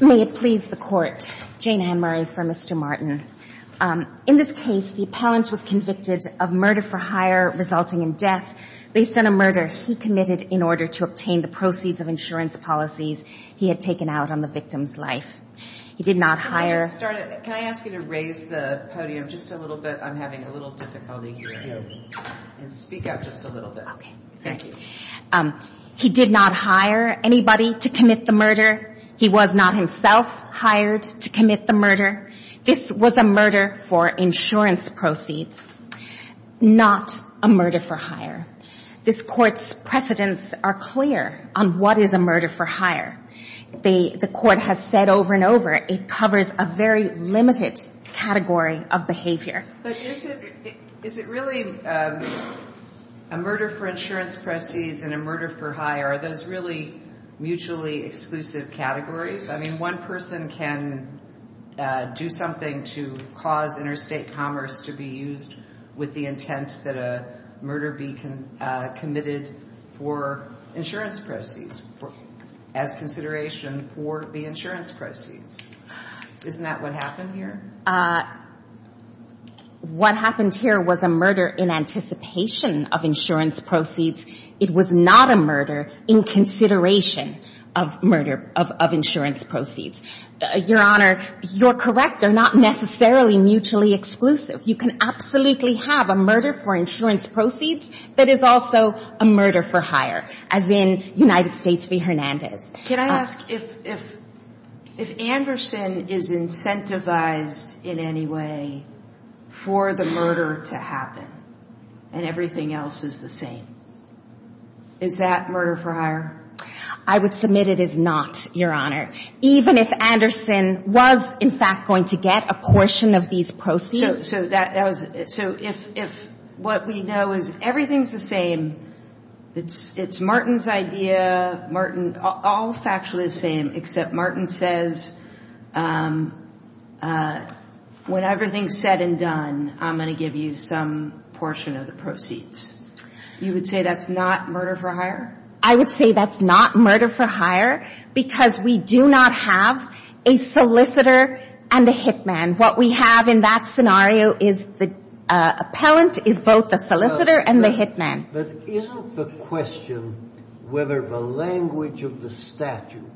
May it please the court, Jane Ann Murray for Mr. Martin. In this case, the appellant was convicted of murder for hire resulting in death based on a murder he committed in order to obtain the proceeds of insurance policies he had taken out on the victim's life. He did not hire anybody to commit the murder was not himself hired this murder insurance proceeds not emergency this precedents are clear on what is a murder for hire the court has said over and a very limited category of behavior is it really a murder for insurance proceeds and a murder for hire those really mutually exclusive categories I mean one person can do something to cause interstate commerce to be used with the intent that a murder be what happened here was a murder in anticipation of insurance proceeds it was not a murder in consideration of murder of insurance proceeds your honor you're correct they're not necessarily mutually exclusive you can absolutely have a murder for insurance proceeds that's not a murder in anticipation of insurance proceeds but it is also a murder for hire as in United States be Hernandez can I ask if if if Anderson is incentivized in any way for the murder to happen and everything else is the same is that murder prior I would submit it is not your honor even if Anderson was in fact going to get a portion of these proceeds so that was it so if if what we know is everything's the same it's it's Martin's idea Martin all factually the same except Martin says when everything said and done I'm going to give you some portion of the proceeds you would say that's not murder for hire I would say that's not murder for hire because we do not have a solicitor and a hit man what we have in that scenario is the appellant is both the solicitor and the hit man but isn't the question whether the language of the statute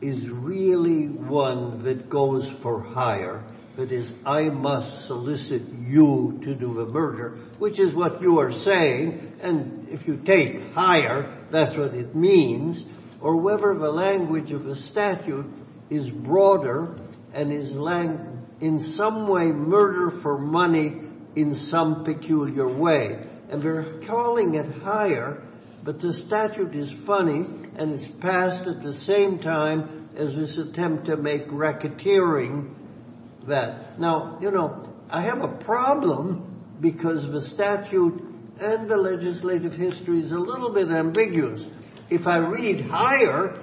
is really one that goes for hire that is I must solicit you to do the murder which is what you are saying and if you take higher that's what it means or whether the language of the statute is broader and is land in some way murder for money in some peculiar way and we're calling it higher but the statute is funny and it's passed at the same time as this attempt to make racketeering that now you know I have a problem because of the statute and the legislative history is a little bit ambiguous if I read higher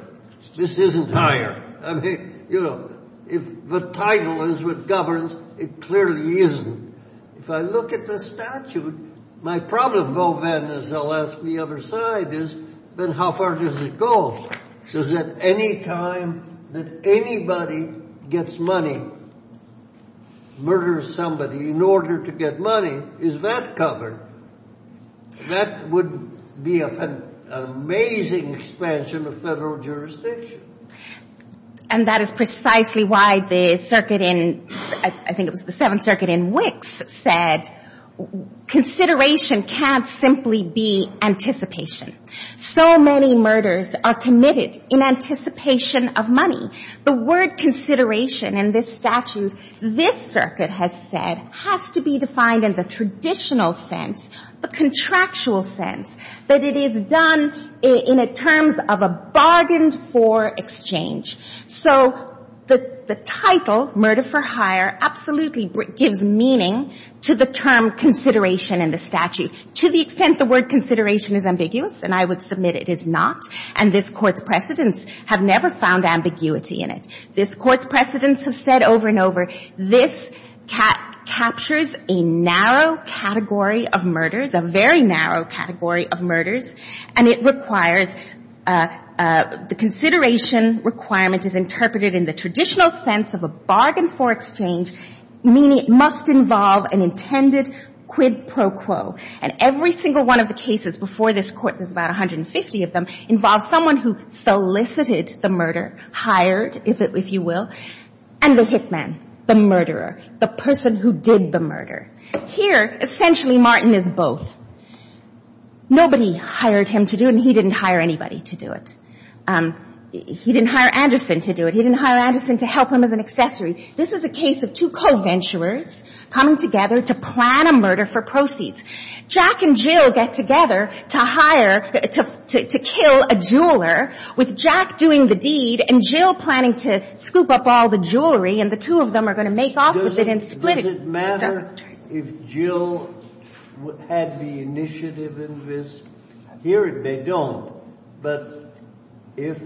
this isn't higher I mean you know if the title is what governs it clearly isn't if I look at the statute my problem though then is I'll ask the other side is then how far does it go says that any time that anybody gets money murders somebody in order to get money is that covered that would be an amazing expansion of federal jurisdiction and that is precisely why the circuit in I think it was the 7th circuit in Wicks said consideration can't simply be anticipation so many murders are committed in anticipation of money the word consideration in this statute this circuit has said has to be defined in the traditional sense the contractual sense that it is done in a terms of a bargained for exchange so the title murder for hire absolutely gives meaning to the term consideration in the statute to the extent the word consideration is ambiguous and I would submit it is not and this court's precedents have never found ambiguity in it this court's precedents have said over and over this captures a narrow category of murders a very narrow category of murders and it requires the consideration requirement is interpreted in the traditional sense of a bargain for exchange meaning it must involve an intended quid pro quo and every single one of the cases before this court there's about 150 of them involves someone who solicited the murder hired if it if you will and the hit man the murderer the person who did the murder here essentially Martin is both nobody hired him to do and he didn't hire anybody to do it he didn't hire Anderson to do it he didn't hire Anderson to help him as an accessory this is a case of two co-venturers coming together to plan a murder for proceeds Jack and Jill get together to hire to kill a jeweler with Jack doing the deed and Jill planning to scoop up all the jewelry and the two of them are going to make off with it and split it does it matter if Jill had the initiative in this here they don't but if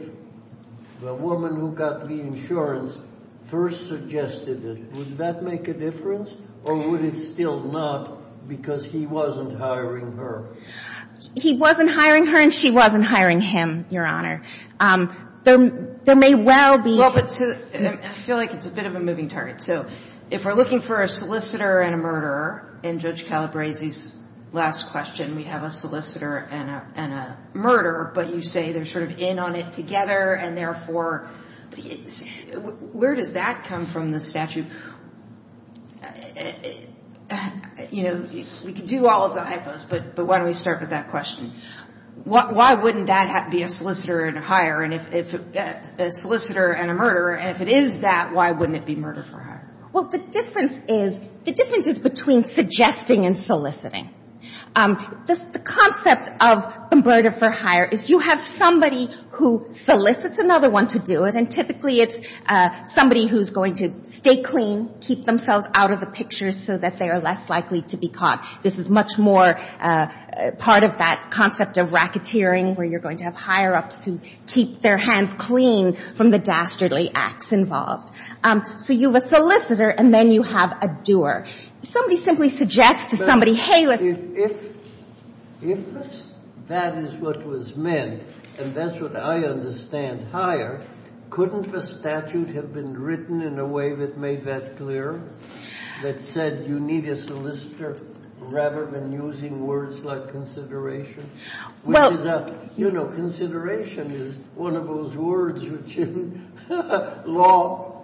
the woman who got the insurance first suggested it would that make a difference or would it still not because he wasn't hiring her he wasn't hiring her and she wasn't hiring him your honor there may well be I feel like it's a bit of a moving target so if we're looking for a solicitor and a murderer in Judge Calabresi's last question we have a solicitor and a murderer but you say they're sort of in on it together and therefore where does that come from the statute you know we can do all of the hypo's but why don't we start with that question why wouldn't that be a solicitor and a murderer and if it is that why wouldn't it be murder for hire well the difference is the difference is between suggesting and soliciting just the concept of murder for hire is you have somebody who solicits another one to do it and typically it's somebody who's going to stay clean keep themselves out of the picture so that they are less likely to be caught this is much more part of that concept of racketeering where you're going to have higher ups who keep their hands clean from the dastardly acts involved so you have a solicitor and then you have a doer somebody simply suggests to somebody hey let's if that is what was meant and that's what I understand hire couldn't the statute have been written in a way that made that clear that said you need a solicitor rather than using words like consideration well you know consideration is one of those words which in law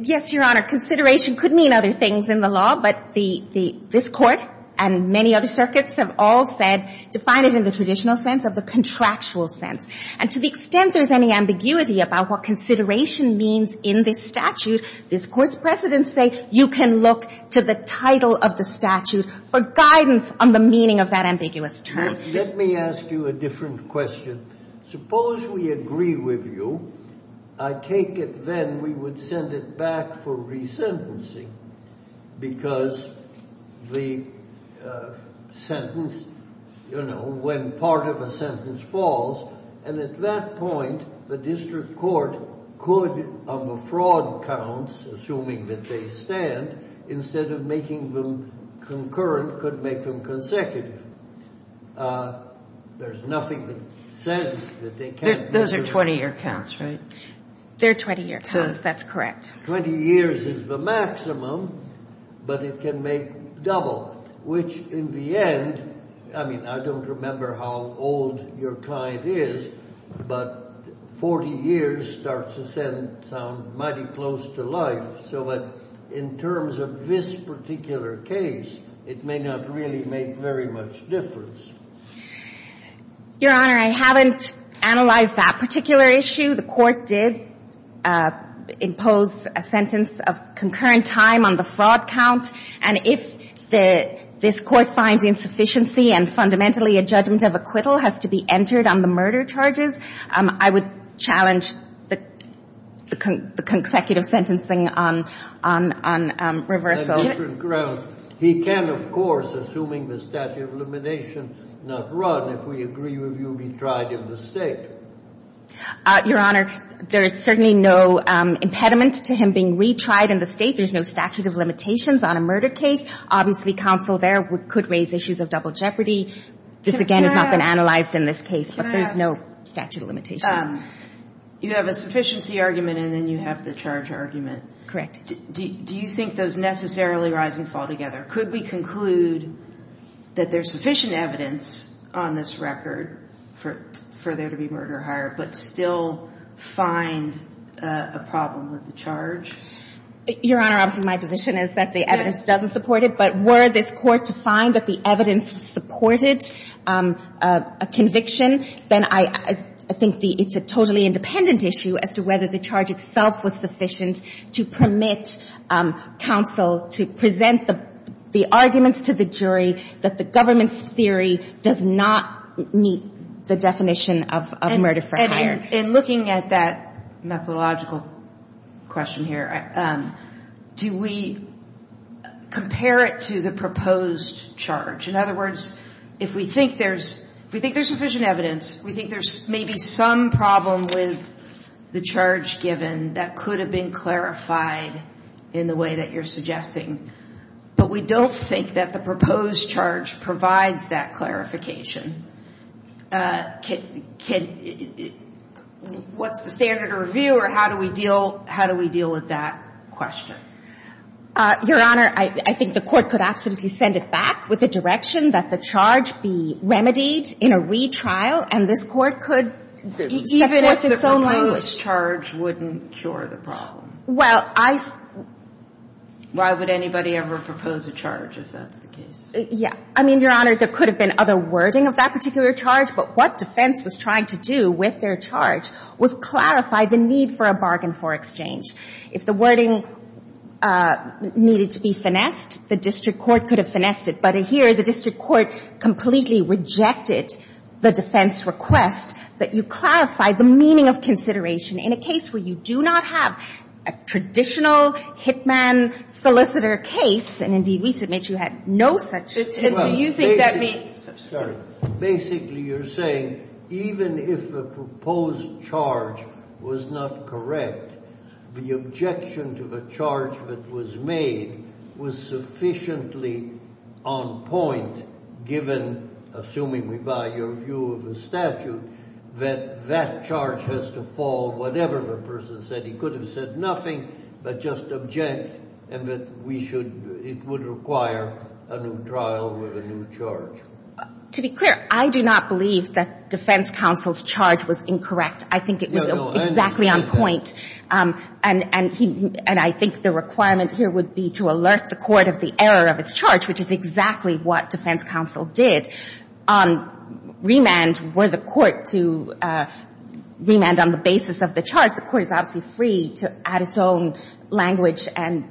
yes your honor consideration could mean other things in the law but the this court and many other circuits have all said define it in the traditional sense of the contractual sense and to the extent there is any ambiguity about what consideration means in this statute this court's precedents say you can look to the title of the statute for guidance on the meaning of that word let me ask you a different question suppose we agree with you I take it then we would send it back for resentencing because the sentence you know when part of a sentence falls and at that point the district court could on the fraud counts assuming that they stand instead of making them concurrent could make them consecutive there's nothing that says that they can't those are 20 year counts right they're 20 year counts that's correct 20 years is the maximum but it can make double which in the end I mean I don't remember how old your client is but 40 years starts to sound mighty close to life so in terms of this particular case it may not really make very much difference your honor I haven't analyzed that particular issue the court did impose a sentence of concurrent time on the fraud count and if this court finds insufficiency and fundamentally a judgment of acquittal has to be entered on the murder charges I would challenge the consecutive sentencing on reverse he can of course assuming the statute of elimination not run if we agree with you be tried in the state your honor there is certainly no impediment to him being retried in the state there's no statute of limitations on a murder case obviously counsel there could raise issues of double jeopardy this again has not been analyzed in this case but there's no statute of limitations you have a sufficiency argument and then you have the charge argument correct do you think those necessarily rise and fall together could we conclude that there's sufficient evidence on this record for there to be murder hire but still find a problem with the charge your honor obviously my position is that the evidence doesn't support it but were this court to find that the evidence supported a conviction then I think it's a totally independent issue as to whether the charge itself was sufficient to permit counsel to present the arguments to the jury that the government's theory does not meet the definition of murder for hire your honor in looking at that methodological question here do we compare it to the proposed charge in other words if we think there's sufficient evidence we think there's maybe some problem with the charge given that could have been clarified in the way that you're suggesting but we don't think that the proposed charge provides that clarification what's the standard of review or how do we deal with that question your honor I think the court could absolutely send it back with the direction that the charge be remedied in a retrial and this court could even if the proposed charge wouldn't cure the problem well I why would anybody ever propose a charge if that's the case yeah I mean your honor there could have been other wording of that particular charge but what defense was trying to do with their charge was clarify the need for a bargain for exchange if the wording needed to be finessed the district court could have finessed it but here the district court completely rejected the defense request that you clarify the meaning of consideration in a case where you do not have a traditional hitman solicitor case and indeed we submit you had no such case do you think that means to be clear I do not believe that defense counsel's charge was incorrect I think it was exactly on point and I think the requirement here would be to alert the court of the error of its charge which is exactly what defense counsel did on remand where the court to remand on the basis of the charge the court is obviously free to add its own language and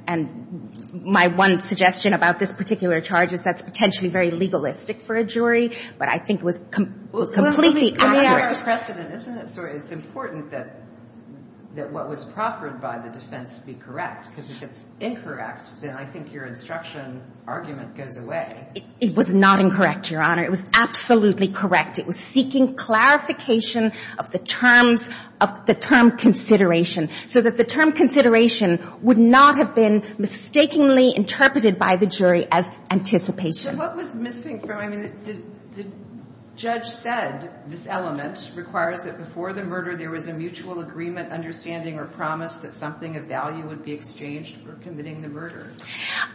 my one suggestion about this particular charge is that's potentially very legalistic for a jury but I think it was completely accurate it was not incorrect your honor it was absolutely correct it was seeking clarification of the terms of the term consideration so that the term consideration would not have been mistakenly interpreted by the jury as anticipation so what was missing from I mean the judge said this element requires that before the murder there was a mutual agreement understanding or promise that something of value would be exchanged for committing the murder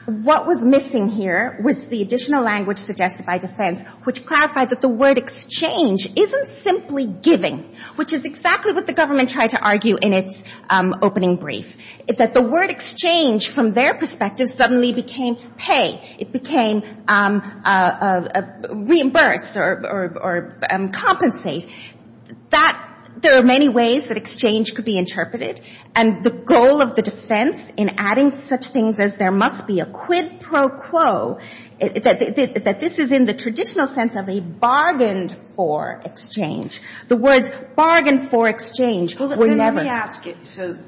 what was missing here was the additional language suggested by defense which clarified that the word exchange isn't simply giving which is exactly what the government tried to argue in its opening brief that the word exchange from their perspective suddenly became pay it became reimbursed or compensate that there are many ways that exchange could be interpreted and the goal of the defense in adding such things as there must be a quid pro quo that this is in the traditional sense of a bargained for exchange the words bargained for exchange were never let me ask you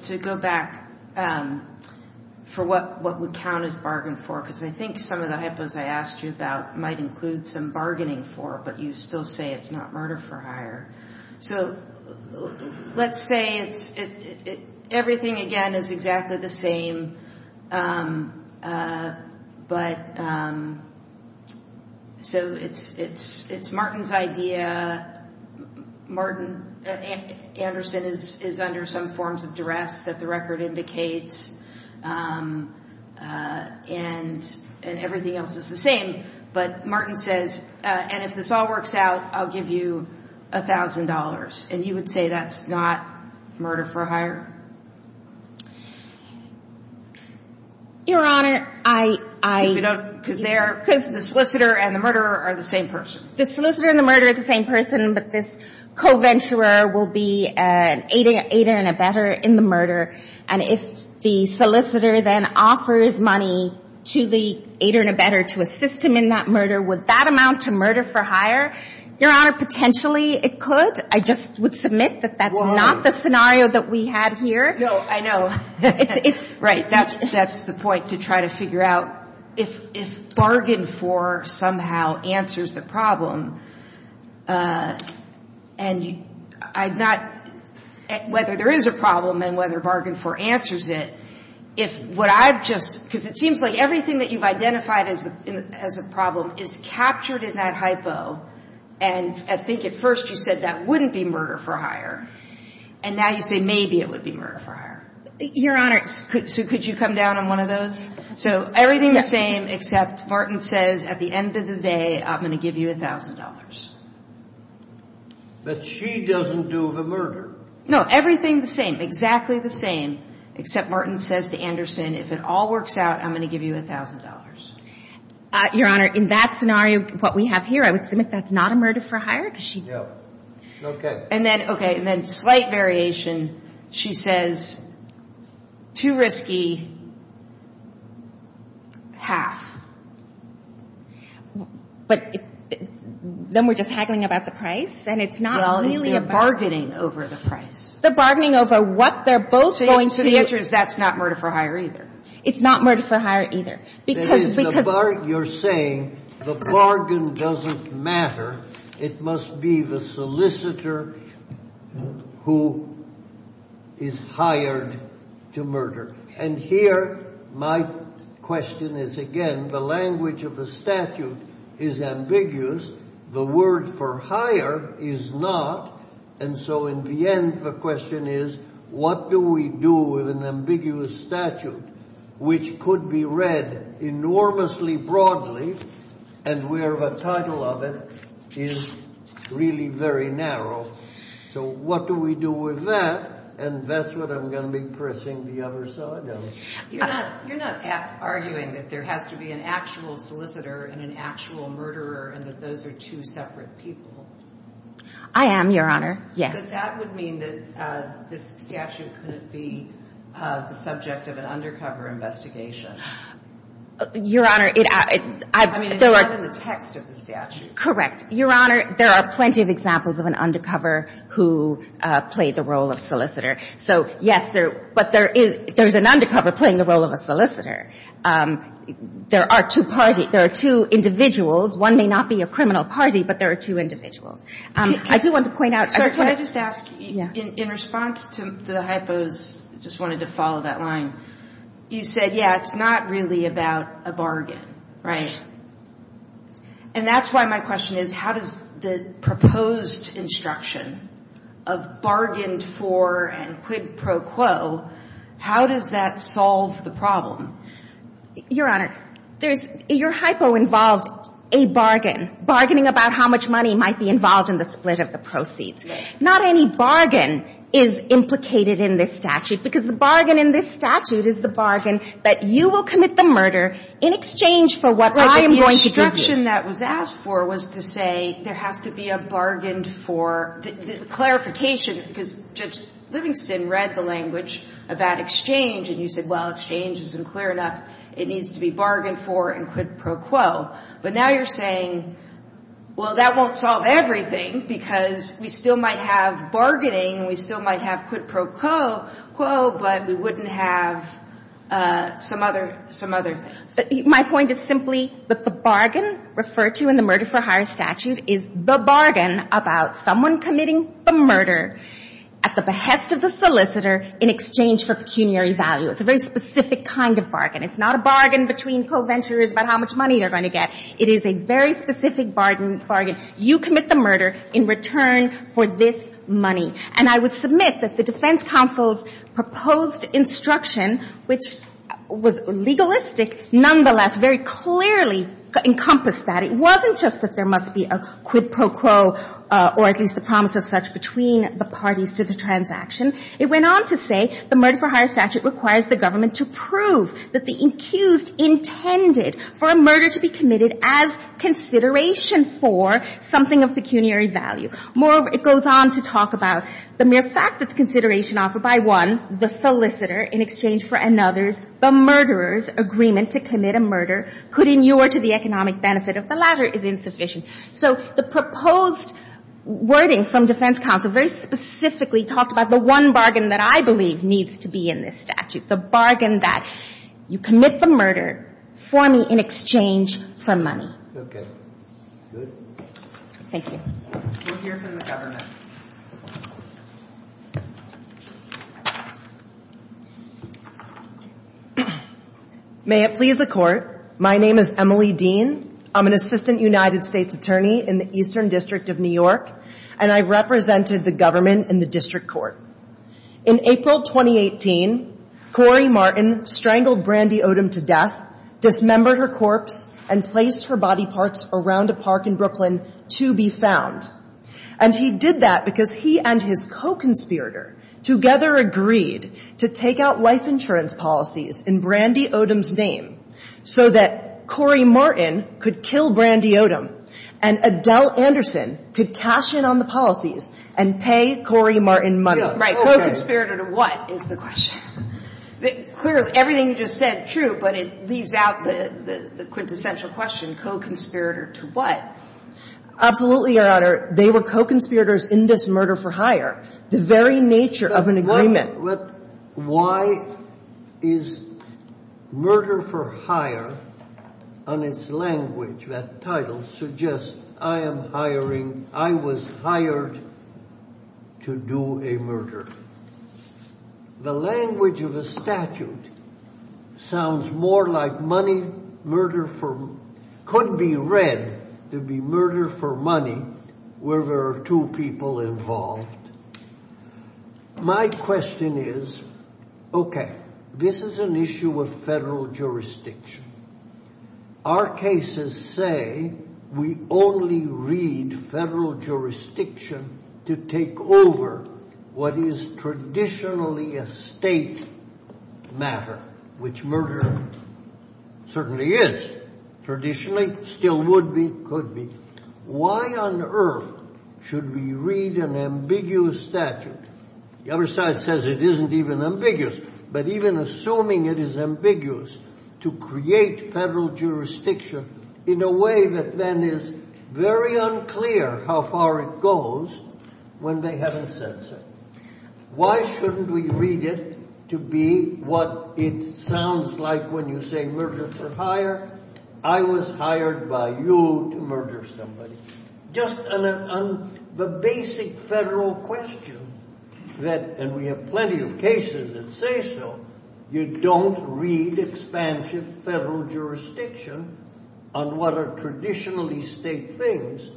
to go back for what would count as bargained for because I think some of the hypos I asked you about might include some bargaining for but you still say it's not murder for hire so let's say it's everything again is exactly the same but so it's Martin's idea Martin Anderson is under some forms of duress that the record indicates and everything else is the same but Martin says and if this all works out I'll give you a thousand dollars and you would say that's not murder for hire your honor I don't because they are because the solicitor and the murderer are the same person the solicitor and the murder of the same person but this co-venturer will be an aid and a better in the murder and if the solicitor then offers money to the aid and a better to assist him in that murder would that amount to murder for hire your honor potentially it could I just would submit that that's not the scenario that we had for the murder for hire no I know it's right that's that's the point to try to figure out if if bargain for somehow answers the problem and I'm not whether there is a problem and whether bargain for answers it if what I've just because it seems like everything that you've identified as a problem is captured in that hypo and I think at first you said that wouldn't be murder for hire and now you say maybe it would be murder for hire your honor could so could you come down on one of those so everything the same except Martin says at the end of the day I'm going to give you a thousand dollars but she doesn't do the murder no everything the same exactly the same except Martin says to Anderson if it all works out I'm going to give you a thousand dollars your honor in that scenario what we have here I would submit that's not a murder for hire and then okay then slight variation she says too risky half but then we're just haggling about the price and it's not really a bargaining over the price the bargaining over what they're both going to the interest that's not murder for hire either it's not murder for hire either because you're saying the bargain doesn't matter it must be the solicitor who is hired to murder and here my question is again the language of the statute is ambiguous the word for hire is not and so in the end the question is what do we do with an ambiguous statute which could be read enormously broadly and where the title of it is really very narrow so what do we do with that and that's what I'm going to be pressing the other side of it you're not arguing that there has to be an actual solicitor and an actual murderer and that those are two separate people I am your honor yes that would mean that this statute couldn't be the subject of an undercover investigation your honor there are plenty of examples of an undercover who played the role of solicitor so yes but there is an undercover playing the role of a solicitor there are two parties there are two individuals one may not be a criminal party but there are two individuals can I just ask in response to the hypos just wanted to follow that line you said yeah it's not really about a bargain right and that's why my question is how does the proposed instruction of bargained for and quid pro quo how does that solve the problem your honor there's your hypo involved a bargain bargaining about how much money might be involved in the split of the proceeds not any bargain is implicated in this statute because the bargain in this statute is the bargain that you will commit the murder in exchange for what I am going to do my question that was asked for was to say there has to be a bargained for clarification because judge Livingston read the language about exchange and you said well exchange isn't clear enough it needs to be bargained for and quid pro quo but now you're saying well that won't solve everything because we still might have bargaining and we still might have quid pro quo but we wouldn't have some other things my point is simply that the bargain referred to in the murder for hire statute is the bargain about someone committing the murder at the behest of the solicitor in exchange for pecuniary value it's a very specific kind of bargain it's not a bargain between co-venturers about how much money they're going to get it is a very specific bargain you commit the murder in return for this money and I would submit that the defense counsel's proposed instruction which was legalistic nonetheless very clearly encompassed that it wasn't just that there must be a quid pro quo or at least the promise of such between the parties to the transaction it went on to say the murder for hire statute requires the government to prove that the accused intended for a murder to be committed as consideration for something of pecuniary value moreover it goes on to talk about the mere fact that consideration offered by one the solicitor in exchange for another's the murderer's agreement to commit a murder could inure to the economic benefit if the latter is insufficient so the proposed wording from defense counsel very specifically talked about the one bargain that I believe needs to be in this statute the bargain that you commit the murder for me in exchange for money okay thank you we'll hear from the government may it please the court my name is Emily Dean I'm an assistant United States attorney in the eastern district of New York and I represented the government in the district court in April 2018 Corey Martin strangled Brandy Odom to death dismembered her corpse and placed her body parts around a park in Brooklyn to be found and he did that because he and his co-conspirator together agreed to take out life insurance policies in Brandy Odom's name so that Corey Martin could kill Brandy Odom and Adele Anderson could cash in on the policies and pay Corey Martin money right co-conspirator to what is the question clearly everything you just said is true but it leaves out the quintessential question co-conspirator to what absolutely your honor they were co-conspirators in this murder for hire the very nature of an agreement why is murder for hire on its language that title suggests I am hiring I was hired to do a murder the language of a statute sounds more like money murder for could be read to be murder for money where there are two people involved my question is okay this is an issue of federal jurisdiction our cases say we only read federal jurisdiction to take over what is traditionally a state matter which murder certainly is traditionally still would be could be why on earth should we read an ambiguous statute the other side says it isn't even ambiguous but even assuming it is ambiguous to create federal jurisdiction in a way that then is very unclear how far it goes when they haven't said so why shouldn't we read it to be what it sounds like when you say murder for hire I was hired by you to murder somebody just on the basic federal question that and we have plenty of cases that say so you don't read expansive federal jurisdiction on what are traditionally state things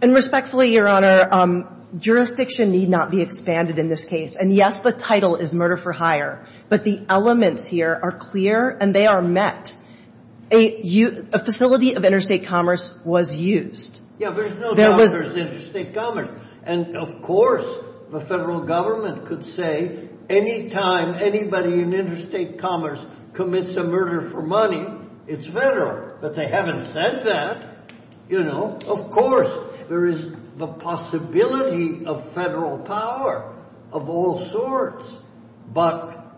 and respectfully your honor jurisdiction need not be expanded in this case and yes the title is murder for hire but the elements here are clear and they are met a facility of interstate commerce was used and of course the federal government could say anytime anybody in interstate commerce commits a murder for money it's federal but they haven't said that you know of course there is the possibility of federal power of all sorts but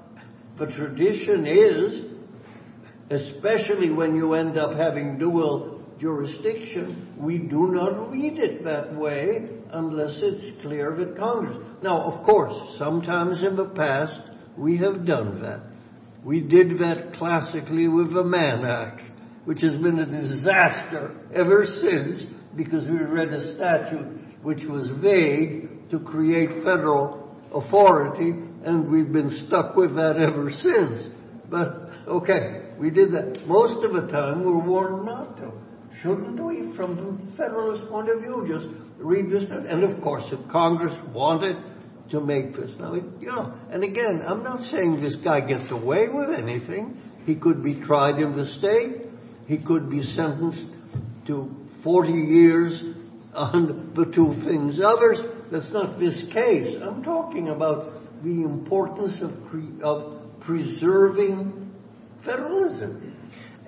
the tradition is especially when you end up having dual jurisdiction we do not read it that way unless it's clear that Congress now of course sometimes in the past we have done that we did that classically with the Mann Act which has been a disaster ever since because we read the statute which was vague to create federal authority and we've been stuck with that ever since but okay we did that most of the time we were warned not to shouldn't we from the federalist point of view just read this and of course if Congress wanted to make this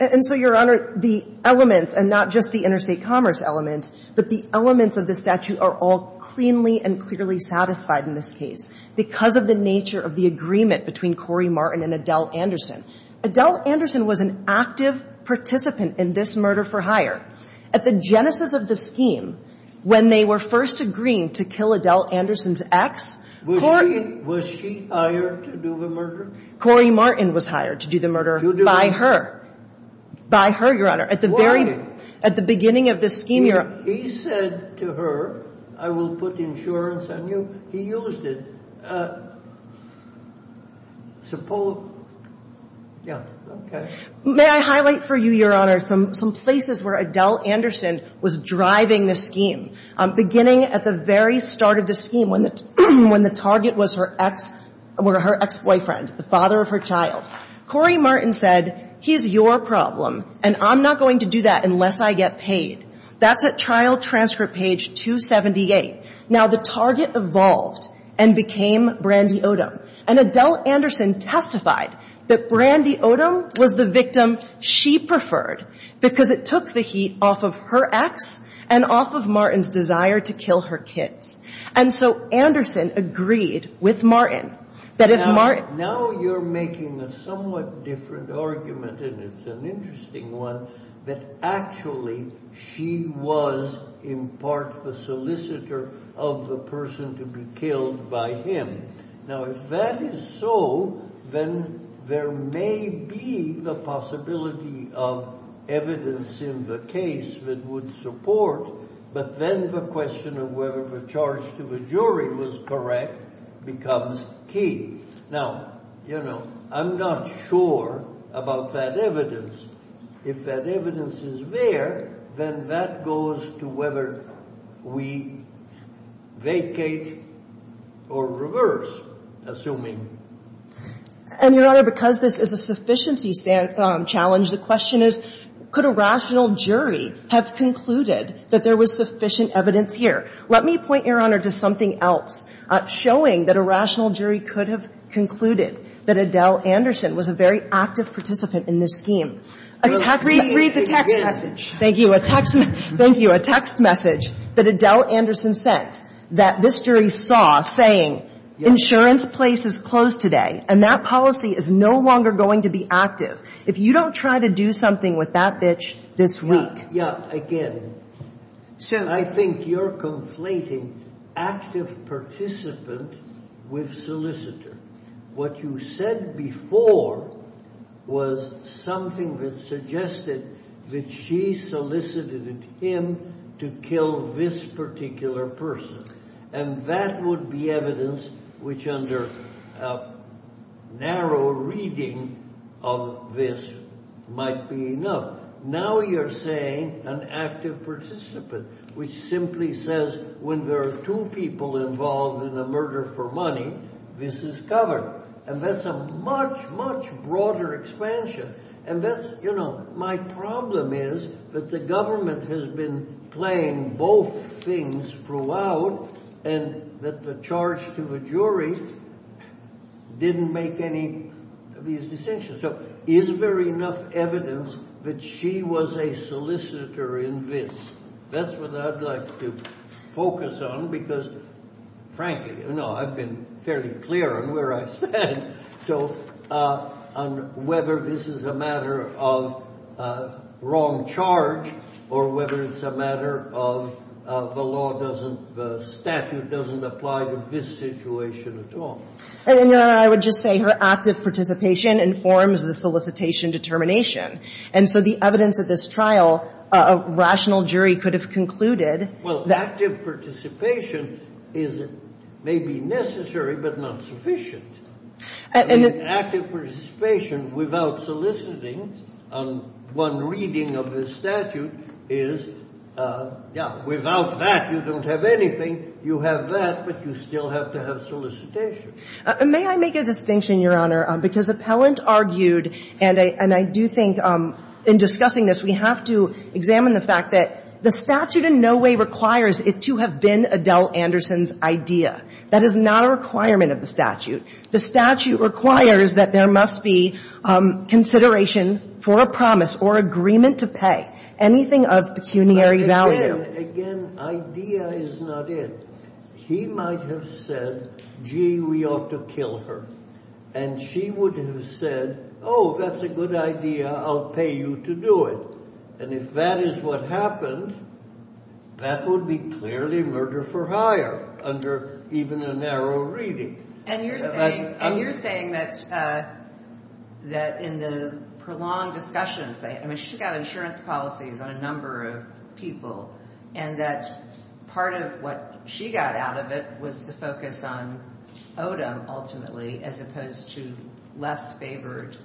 and so your honor the elements and not just the interstate commerce element but the elements of the statute are all cleanly and clearly satisfied in this case because of the nature of the agreement between Corey Martin and Adele Anderson Adele Anderson was an active participant in this murder for hire at the genesis of the scheme when they were first agreeing to kill Adele Anderson's ex was she hired to do the murder? Corey Martin was hired to do the murder by her by her your honor at the beginning of the scheme he said to her I will put insurance on you he used it may I highlight for you your honor some places where Adele Anderson was driving the scheme beginning at the very start of the scheme when the target was her ex boyfriend the father of her child Corey Martin said he's your problem and I'm not going to do that unless I get paid that's at trial transcript page 278 now the target evolved and became Brandy Odom and Adele Anderson testified that Brandy Odom was the victim she preferred because it took the heat off of her ex and off of Martin's desire to kill her kids and so Anderson agreed with Martin that if Martin was correct becomes key now you know I'm not sure about that evidence if that evidence is there then that goes to whether we vacate or reverse assuming and your honor because this is a sufficiency challenge the question is could a rational jury have concluded that there was sufficient evidence here let me point your honor to something else showing that a rational jury could have concluded that Adele Anderson was a very active participant in this scheme read the text message thank you a text message that Adele Anderson sent that this jury saw saying insurance place is closed today and that policy is no longer going to be active if you don't try to do something with that bitch this week so I think you're conflating active participant with solicitor what you said before was something that suggested that she solicited him to kill this particular person and that would be evidence which under a narrow reading of this might be enough now you're saying an active participant which simply says when there are two people involved in a murder for money this is covered and that's a much much broader expansion and that's you know my problem is that the government has been playing both things throughout and that the charge to the jury didn't make any of these decisions so is there enough evidence that she was a solicitor in this that's what I'd like to focus on because frankly you know I've been fairly clear on where I stand so on whether this is a matter of wrong charge or whether it's a matter of the law doesn't the statute doesn't apply to this situation at all I would just say her active participation informs the solicitation determination and so the evidence of this trial a rational jury could have concluded well active participation is maybe necessary but not sufficient active participation without soliciting one reading of the statute is yeah without that you don't have anything you have that but you still have to have solicitation may I make a distinction your honor because appellant argued and I do think in discussing this we have to examine the fact that the statute in no way requires it to have been Adele Anderson's idea that is not a requirement of the statute the statute requires that there must be consideration for a promise or agreement to pay anything of pecuniary value again idea is not it he might have said gee we ought to kill her and she would have said oh that's a good idea I'll pay you to do it and if that is what happened that would be clearly murder for hire under even a narrow reading and you're saying that in the prolonged discussions she got insurance policies on a number of people and that part of what she got out of it was the focus on Odom ultimately as opposed to less favored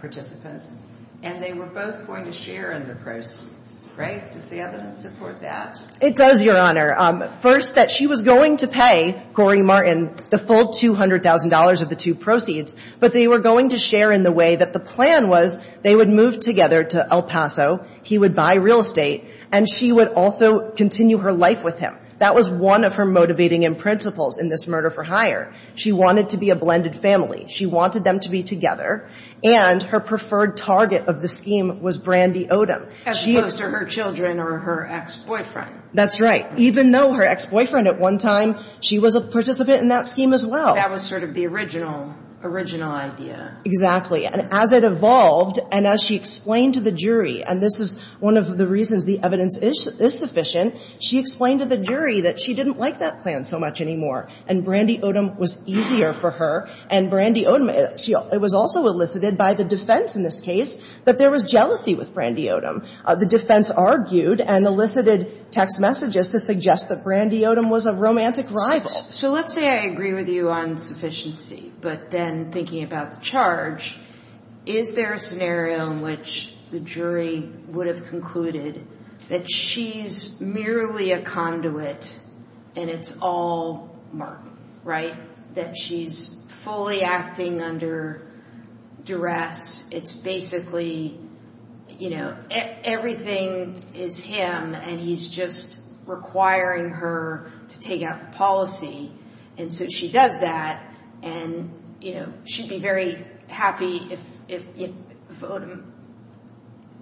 participants and they were both going to share in the proceeds right does the evidence support that it does your honor first that she was going to pay Corey Martin the full $200,000 of the two proceeds but they were going to share in the way that the plan was they would move together to El Paso he would buy real estate and she would also continue her life with him that was one of her motivating and principles in this murder for hire she wanted to be a blended family she wanted them to be together and her preferred target of the scheme was Brandy Odom as opposed to her children or her ex-boyfriend that's right even though her ex-boyfriend at one time she was a participant in that scheme as well that was sort of the original original idea exactly and as it evolved and as she explained to the jury and this is one of the reasons the evidence is sufficient she explained to the jury that she didn't like that plan so much anymore and Brandy Odom was easier for her and Brandy Odom it was also elicited by the defense in this case that there was jealousy with Brandy Odom the defense argued and elicited text messages to suggest that Brandy Odom was a romantic rival so let's say I agree with you on sufficiency but then thinking about the charge is there a scenario in which the jury would have concluded that she's merely a conduit and it's all Mark right that she's fully acting under duress it's basically you know everything is him and he's just requiring her to take out the policy and so she does that and you know she'd be very happy if Odom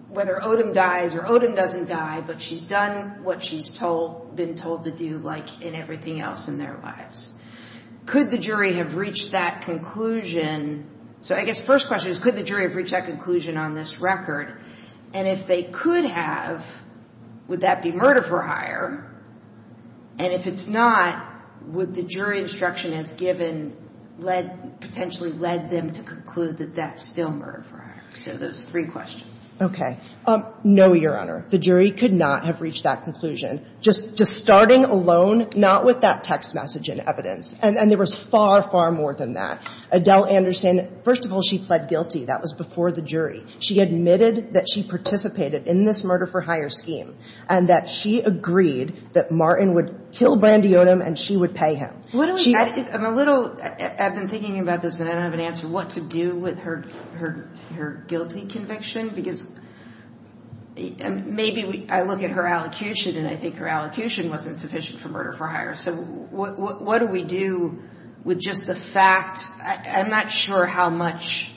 whether Odom dies or Odom doesn't die but she's done what she's told been told to do like in everything else in their lives could the jury have reached that conclusion so I guess first question is could the jury have reached that conclusion on this record and if they could have would that be murder for hire and if it's not would the jury instruction has given led potentially led them to conclude that that's still murder for hire so those three questions okay um no your honor the jury could not have reached that conclusion just just starting alone not with that text message and evidence and and there was far far more than that Adele Anderson first of all she pled guilty that was before the jury she admitted that she participated in this murder for hire scheme and that she agreed that Martin would kill Brandy Odom and she would pay him what she had is I'm a little I've been thinking about this and I don't have an answer what to do with her her guilty conviction because maybe I look at her allocution and I think her allocution wasn't sufficient for murder for hire so what do we do with just the fact I'm not sure how much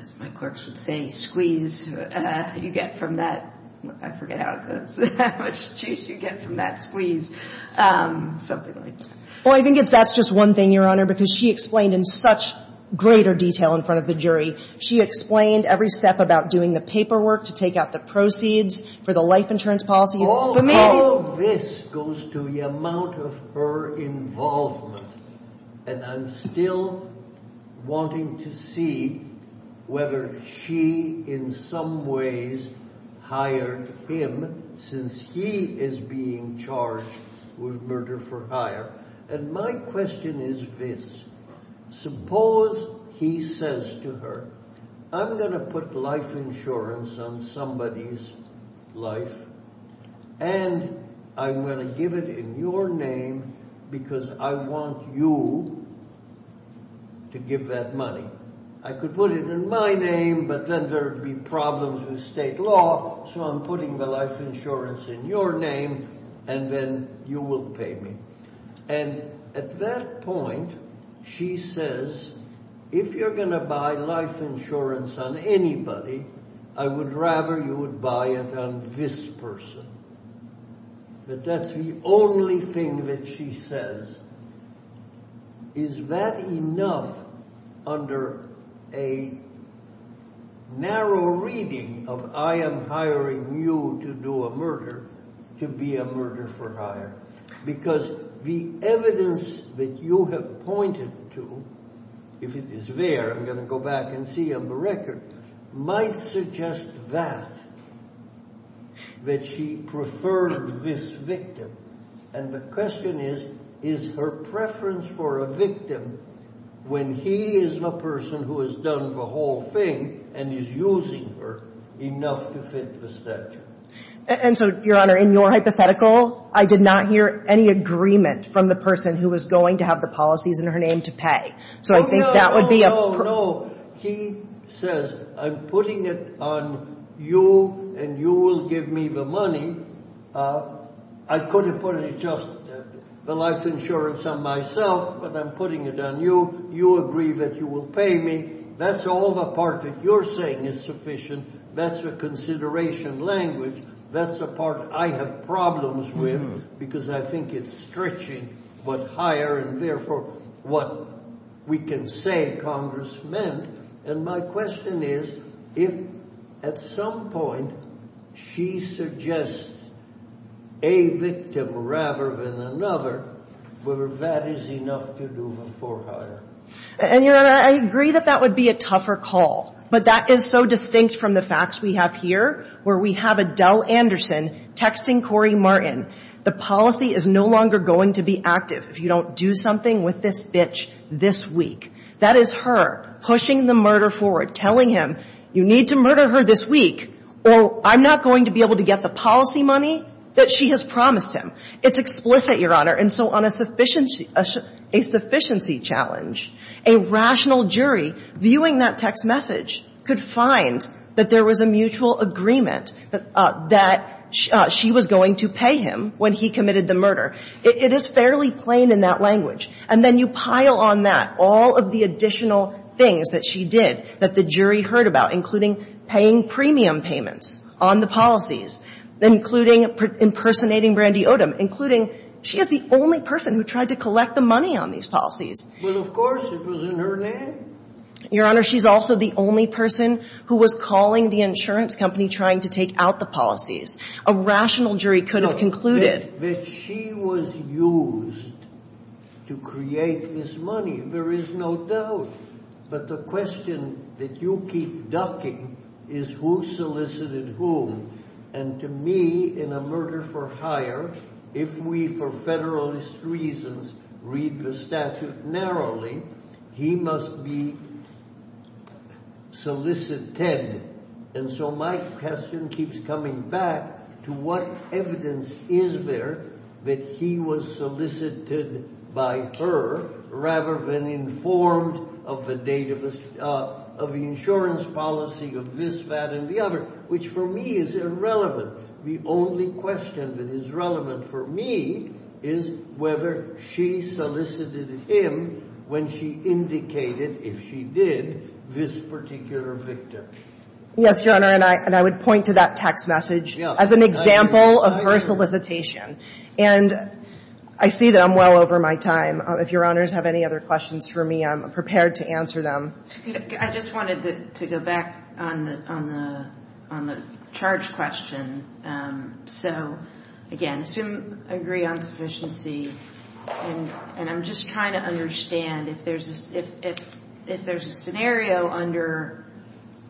as my courts would say squeeze you get from that I forget how it goes how much juice you get from that squeeze something like that well I think if that's just one thing your honor because she explained in such greater detail in front of the jury she explained every step about doing the paperwork to take out the proceeds for the life insurance policies all of this goes to the amount of her involvement and I'm still wanting to see whether she in some ways hired him since he is being charged with murder for hire and my question is this suppose he says to her I'm going to put life insurance on somebody's life and I'm going to give it in your name because I want you to give that money I could put it in my name but then there would be problems with state law so I'm putting the life insurance in your name and then you will pay me and at that point she says if you're going to buy life insurance on anybody I would rather you would buy it on this person but that's the only thing that she says is that enough under a narrow reading of I am hiring you to do a murder to be a murder for hire because the evidence that you have pointed to if it is there I'm going to go back and see on the record might suggest that that she preferred this victim and the question is is her preference for a victim when he is the person who has done the whole thing and is using her enough to fit the statute and so your honor in your hypothetical I did not hear any agreement from the person who was going to have the policies in her name to pay so I think that would be a he says I'm putting it on you and you will give me the money I could have put it just the life insurance on myself but I'm putting it on you you agree that you will pay me that's all the part that you're saying is sufficient that's the consideration language that's the part I have problems with because I think it's stretching what hire and therefore what we can say congressman and my question is if at some point she suggests a victim rather than another whether that is enough to do before hire and your honor I agree that that would be a tougher call but that is so distinct from the facts we have here where we have Adele Anderson texting Corey Martin the policy is no longer going to be active if you don't do something with this bitch this week that is her pushing the murder forward telling him you need to murder her this week or I'm not going to be able to get the policy money that she has promised him it's explicit your honor and so on a sufficient a sufficiency challenge a rational jury viewing that text message could find that there was a mutual agreement that she was going to pay him when he committed the murder it is fairly plain in that language and then you pile on that all of the additional things that she did that the jury heard about including paying premium payments on the policies including impersonating Brandy Odom including she is the only person who tried to collect the money on these policies well of course it was in her name your honor she's also the only person who was calling the insurance company trying to take out the policies she was used to create this money there is no doubt but the question that you keep ducking is who solicited whom and to me in a murder for hire if we for federalist reasons read the statute narrowly he must be solicited and so my question keeps coming back to what evidence is there that he was solicited by her rather than informed of the date of the insurance policy of this that and the other which for me is irrelevant the only question that is relevant for me is whether she solicited him when she indicated if she did this particular victim yes your honor and I would point to that text message as an example of her solicitation and I see that I'm well over my time if your honors have any other questions for me I'm prepared to answer them I just wanted to go back on the charge question so again assume agree on sufficiency and I'm just trying to understand if there is a scenario under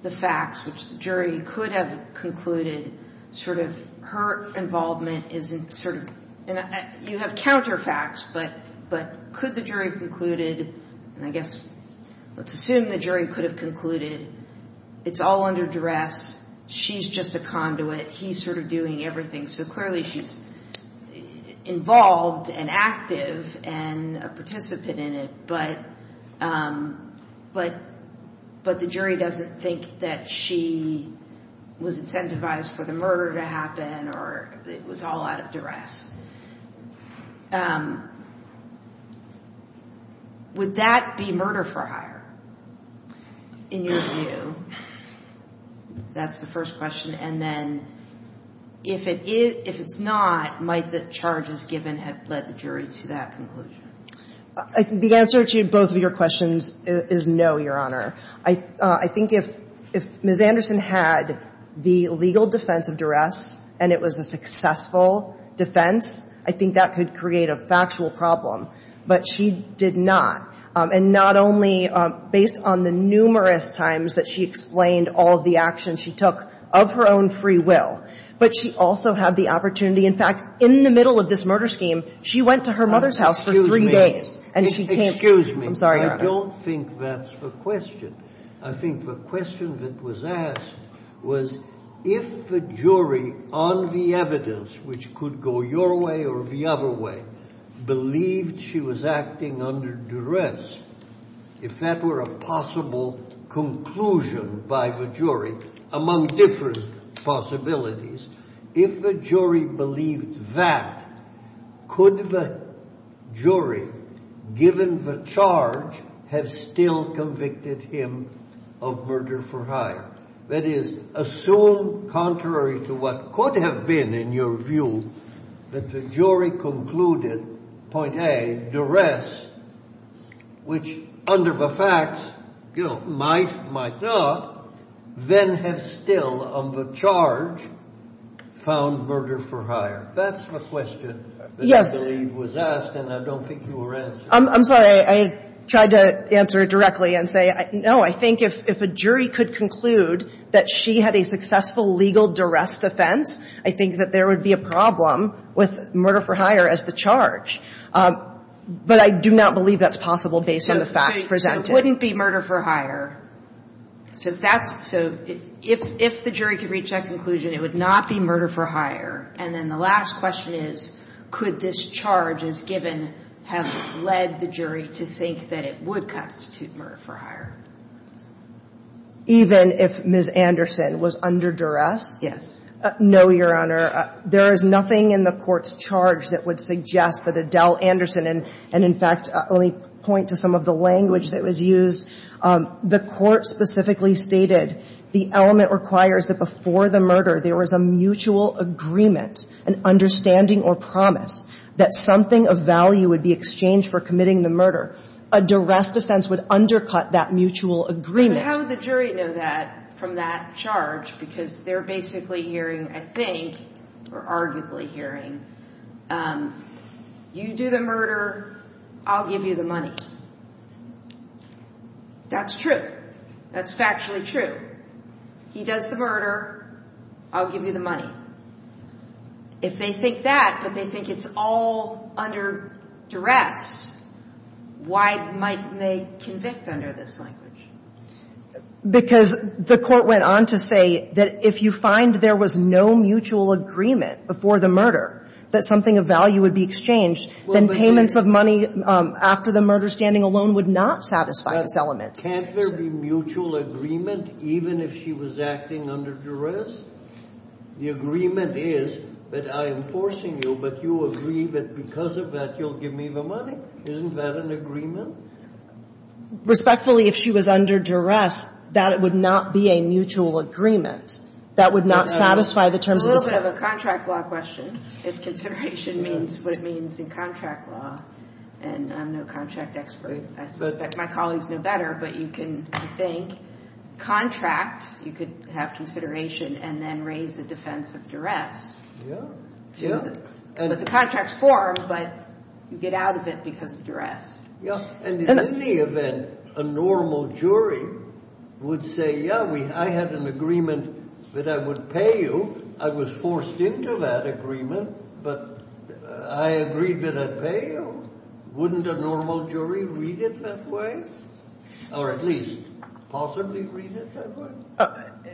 the facts which the jury could have concluded sort of her involvement isn't sort of you know you have counter facts but but could the jury concluded and I guess let's assume the jury could have concluded it's all under duress she's just a conduit he's sort of doing everything so clearly she's involved and active and a participant in it but but but the jury doesn't think that she was incentivized for the murder to happen or it was all out of duress would that be murder for hire in your view that's the first question and then if it is if it's not might the charges given have led the jury to that conclusion the answer to both of your questions is no your honor I think if if Ms. Anderson had the legal defense of duress and it was a successful defense I think that could create a factual problem but she did not and not only based on the numerous times that she explained all the actions she took of her own free will but she also had the opportunity in fact in the middle of this murder scheme she went to her mother's house for three days and she can't excuse me I'm sorry I don't think that's the question I think the question that was asked was if the jury on the evidence which could go your way or the other way believed she was acting under duress if that were a possible conclusion by the jury among different possibilities if the jury believed that could the jury given the charge have still convicted him of murder for hire that is assumed contrary to what could have been in your view that the jury concluded point A duress which under the facts you know might might not then have still on the charge found murder for hire that's the question that I believe was asked and I don't think you were answered I'm sorry I tried to answer it directly and say no I think if a jury could conclude that she had a successful legal duress defense I think that there would be a problem with murder for hire as the charge but I do not believe that's possible based on the facts presented it wouldn't be murder for hire so if that's so if the jury could reach that conclusion it would not be murder for hire and then the last question is could this charge as given have led the jury to think that it would constitute murder for hire even if Ms. Anderson was under duress yes no your honor there is nothing in the court's charge that would suggest that Adele Anderson and in fact let me point to some of the language that was used the court specifically stated the element requires that before the murder there was a mutual agreement an understanding or promise that something of value would be exchanged for committing the murder a duress defense would undercut that mutual agreement how would the jury know that from that charge because they're basically hearing I think or arguably hearing you do the murder I'll give you the money that's true that's factually true he does the murder I'll give you the money if they think that but they think it's all under duress why might they convict under this language because the court went on to say that if you find there was no mutual agreement before the murder that something of value would be exchanged then payments of money after the murder standing alone would not satisfy this element can't there be mutual agreement even if she was acting under duress the agreement is that I am forcing you but you agree that because of that you'll give me the money isn't that an agreement respectfully if she was under duress that it would not be a mutual agreement that would not satisfy the terms of the contract law question if consideration means what it means in contract law and I'm no contract expert I suspect my colleagues know better but you can think contract you could have consideration and then raise the defense of duress but the contract's formed but you get out of it because of duress and in any event a normal jury would say yeah I had an agreement that I would pay you I was forced into that agreement but I agreed that I'd pay you wouldn't a normal jury read it that way or at least possibly read it that way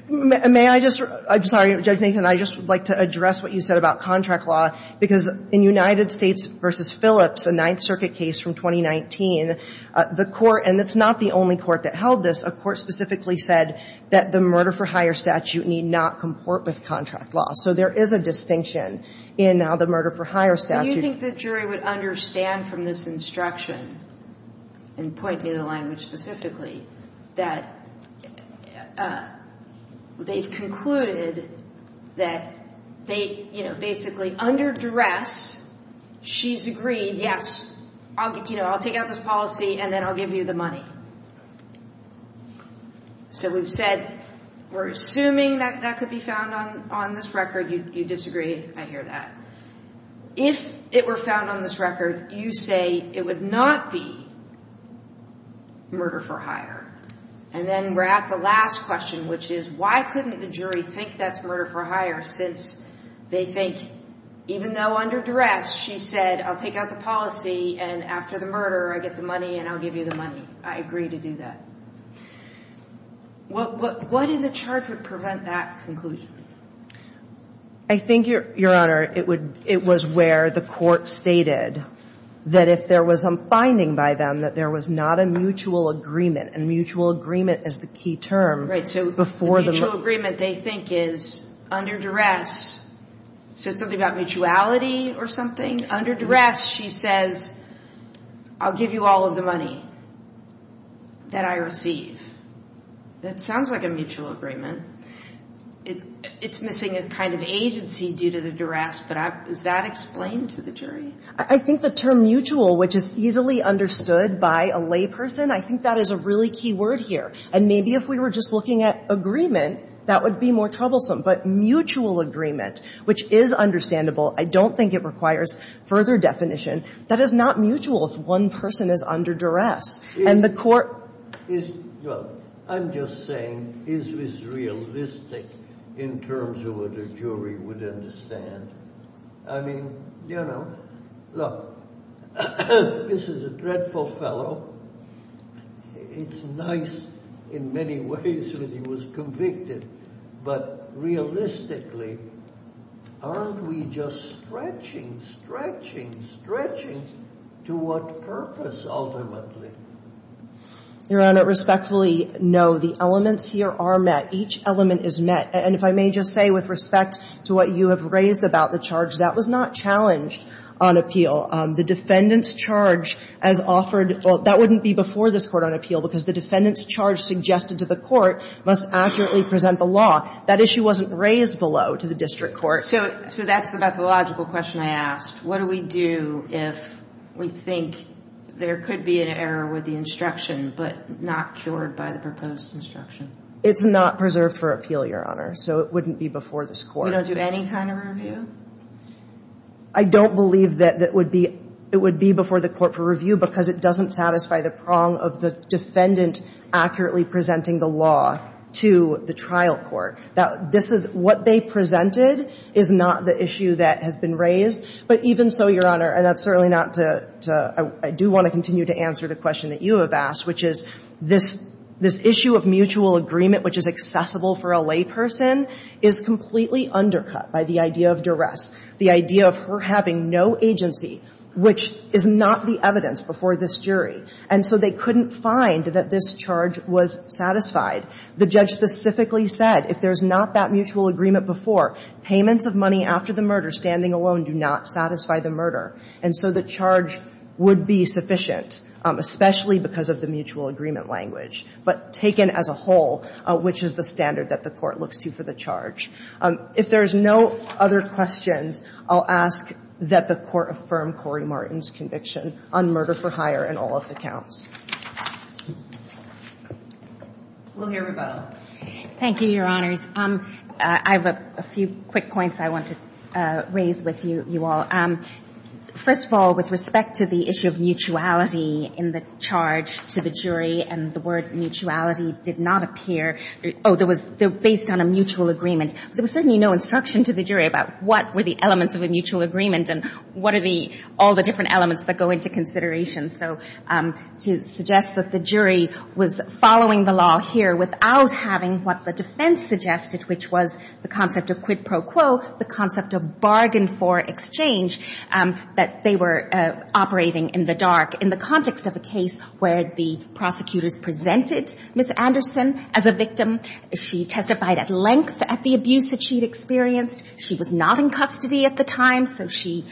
may I just I'm sorry judge Nathan I just would like to address what you said about contract law because in United States versus Phillips a Ninth Circuit case from 2019 the court and it's not the only court that held this of course specifically said that the murder for hire statute need not comport with contract law so there is a distinction in now the murder for hire statute that they you know basically under duress she's agreed yes I'll get you know I'll take out this policy and then I'll give you the money so we've said we're assuming that that could be found on on this record you disagree I hear that if it were found on this record you say it would not be murder for hire and then we're at the last question which is why couldn't the jury think that's murder for hire since they think even though under duress she said I'll take out the policy and after the murder I get the money and I'll give you the money I agree to do that what what what in the charge would prevent that conclusion I think your your honor it would it was where the court stated that if there was some finding by them that there was not a mutual agreement and mutual agreement is the key term right so before the agreement they think is under duress so it's something about mutuality or something under duress she says I'll give you all of the money that I received that sounds like a mutual agreement it's missing a kind of agency due to the duress but does that explain to the jury I think the term mutual which is easily understood by a layperson I think that is a really key word here and maybe if we were just looking at agreement that would be more troublesome but mutual agreement which is understandable I don't think it requires further definition that is not mutual if one person is under duress I'm just saying is this realistic in terms of what a jury would understand I mean you know look this is a dreadful fellow it's nice in many ways that he was convicted but realistically aren't we just stretching stretching stretching to what purpose ultimately your honor respectfully no the elements here are met each element is met and if I may just say with respect to what you have raised about the charge that was not challenged on appeal the defendants charge as offered well that wouldn't be before this court on appeal because the defendants charge suggested to the court must accurately present the law that issue wasn't raised below to the district court so so that's about the logical question I asked what do we do if we think there could be an error with the instruction but not cured by the proposed instruction it's not preserved for appeal your honor so it wouldn't be before the score don't do any kind of review I don't believe that that would be it would be before the court for review because it doesn't satisfy the prong of the defendant accurately presenting the law to the trial court that this is what they presented is not the issue that has been raised but even so your honor and that's certainly not to I do want to continue to answer the question that you have asked which is this this issue of mutual agreement which is accessible for a layperson is completely undercut by the idea of duress the idea of her having no agency which is not the evidence before this jury and so they couldn't find that this charge was satisfied the judge specifically said if there's not that mutual agreement before payments of money after the murder standing alone do not satisfy the murder and so the charge would be sufficient especially because of the mutual agreement language but taken as a whole which is the standard that the court looks to for the charge if there's no other questions I'll ask that the court affirm Cory Martin's conviction on murder for hire and all of the counts thank you your honors I have a few quick points I want to raise with you you all first of all with respect to the issue of mutuality in the charge to the jury and the word mutuality did not appear oh there was there based on a mutual agreement there was certainly no instruction to the jury about what were the elements of a mutual agreement and what are the all the different elements that go into consideration so to suggest that the jury was following the law here without having what the defense suggested which was the concept of quid pro quo the concept of bargain for exchange that they were operating in the dark in the context of a case where the prosecutors presented Miss Anderson as a victim of a murder she testified at length at the abuse that she'd experienced she was not in custody at the time so she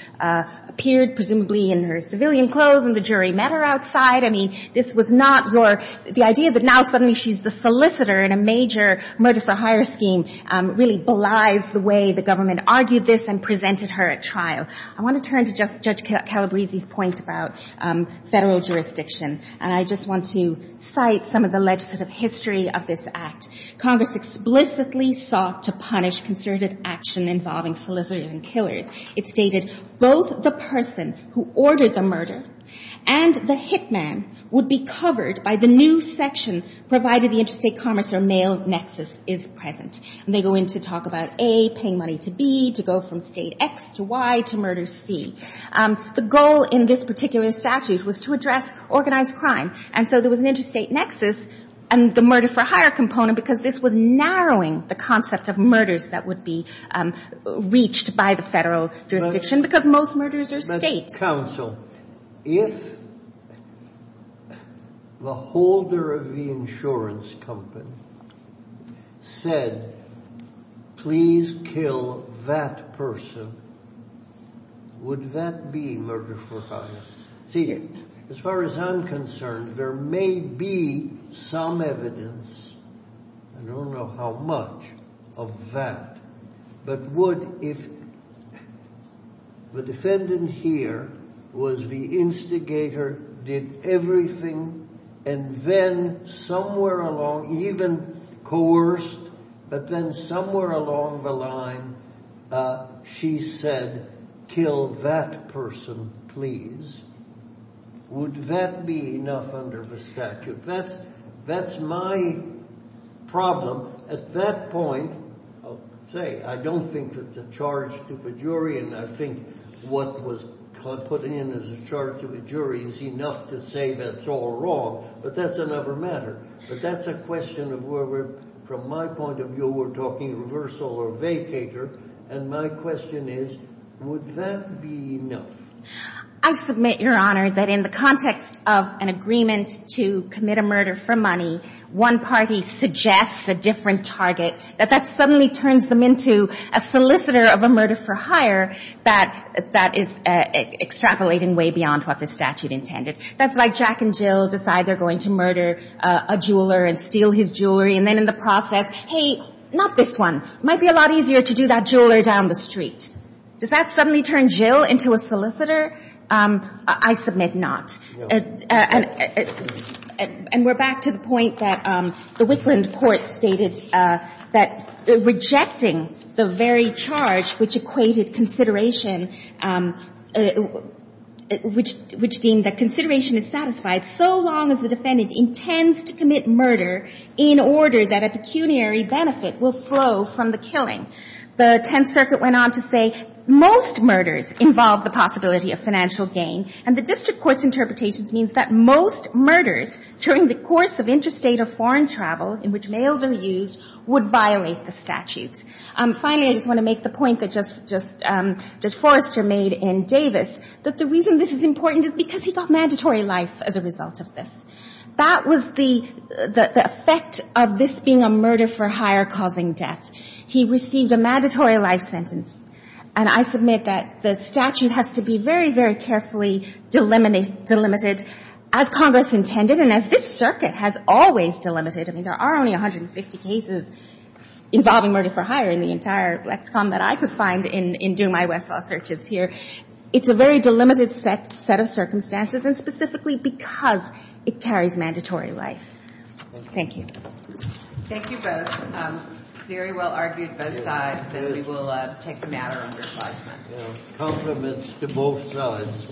appeared presumably in her civilian clothes and the jury met her outside I mean this was not your the idea that now suddenly she's the solicitor in a major murder for hire scheme really belies the way the government argued this and presented her at trial I want to turn to Judge Calabrese's point about federal jurisdiction and I just want to cite some of the legislative history of this act Congress explicitly sought to punish concerted action involving solicitors and killers it stated both the person who ordered the murder and the hit man would be covered by the new section provided the interstate commerce or mail nexus is present and they go in to talk about A paying money to B to go from state X to Y to murder C the goal in this particular statute was to address organized crime and so there was an interstate nexus and the murder for hire component because this was narrowing the concept of murders that would be reached by the federal jurisdiction because most murders are state if the holder of the insurance company said please kill that person would that be murder for hire see as far as I'm concerned there may be some evidence I don't know how much of that but would if the defendant here was the instigator did everything and then somewhere along even coerced but then somewhere along the line she said kill that person please would that be enough under the statute that's my problem at that point I'll say I don't think that the charge to the jury and I think what was put in as a charge to the jury is enough to say that's all wrong but that's another matter but that's a question of where we're from my point of view we're talking reversal or vacator and my question is would that be enough I submit your honor that in the context of an agreement to commit a murder for money one party suggests a different target that that suddenly turns them into a solicitor of a murder for hire that that is extrapolating way beyond what the statute intended that's like Jack and Jill decide they're going to murder a jeweler and steal his jewelry and then in the process hey not this one might be a lot easier to do that jeweler down the street does that suddenly turn Jill into a solicitor I submit not and we're back to the point that the Wickland court stated that rejecting the very charge which equated consideration which deemed that consideration is satisfied so long as the defendant intends to commit murder in order that a pecuniary benefit will flow from the killing the 10th circuit went on to say most murders involve the possibility of financial gain and the district court's interpretations means that most murders during the course of interstate or foreign travel in which mails are used would violate the statutes and finally I just want to make the point that just just that Forrester made in Davis that the reason this is important is because he got mandatory life as a result of this that was the the effect of this being a murder for hire causing death he received a mandatory life sentence and I submit that the statute has to be very very carefully delimited as Congress intended and as this circuit has always delimited I mean there are only 150 cases involving murder for hire in the entire LexCon that I could find in doing my Westlaw searches here it's a very delimited set of circumstances and specifically because it carries mandatory life. Thank you. Thank you both. Very well argued both sides and we will take the matter under assessment. Compliments to both sides.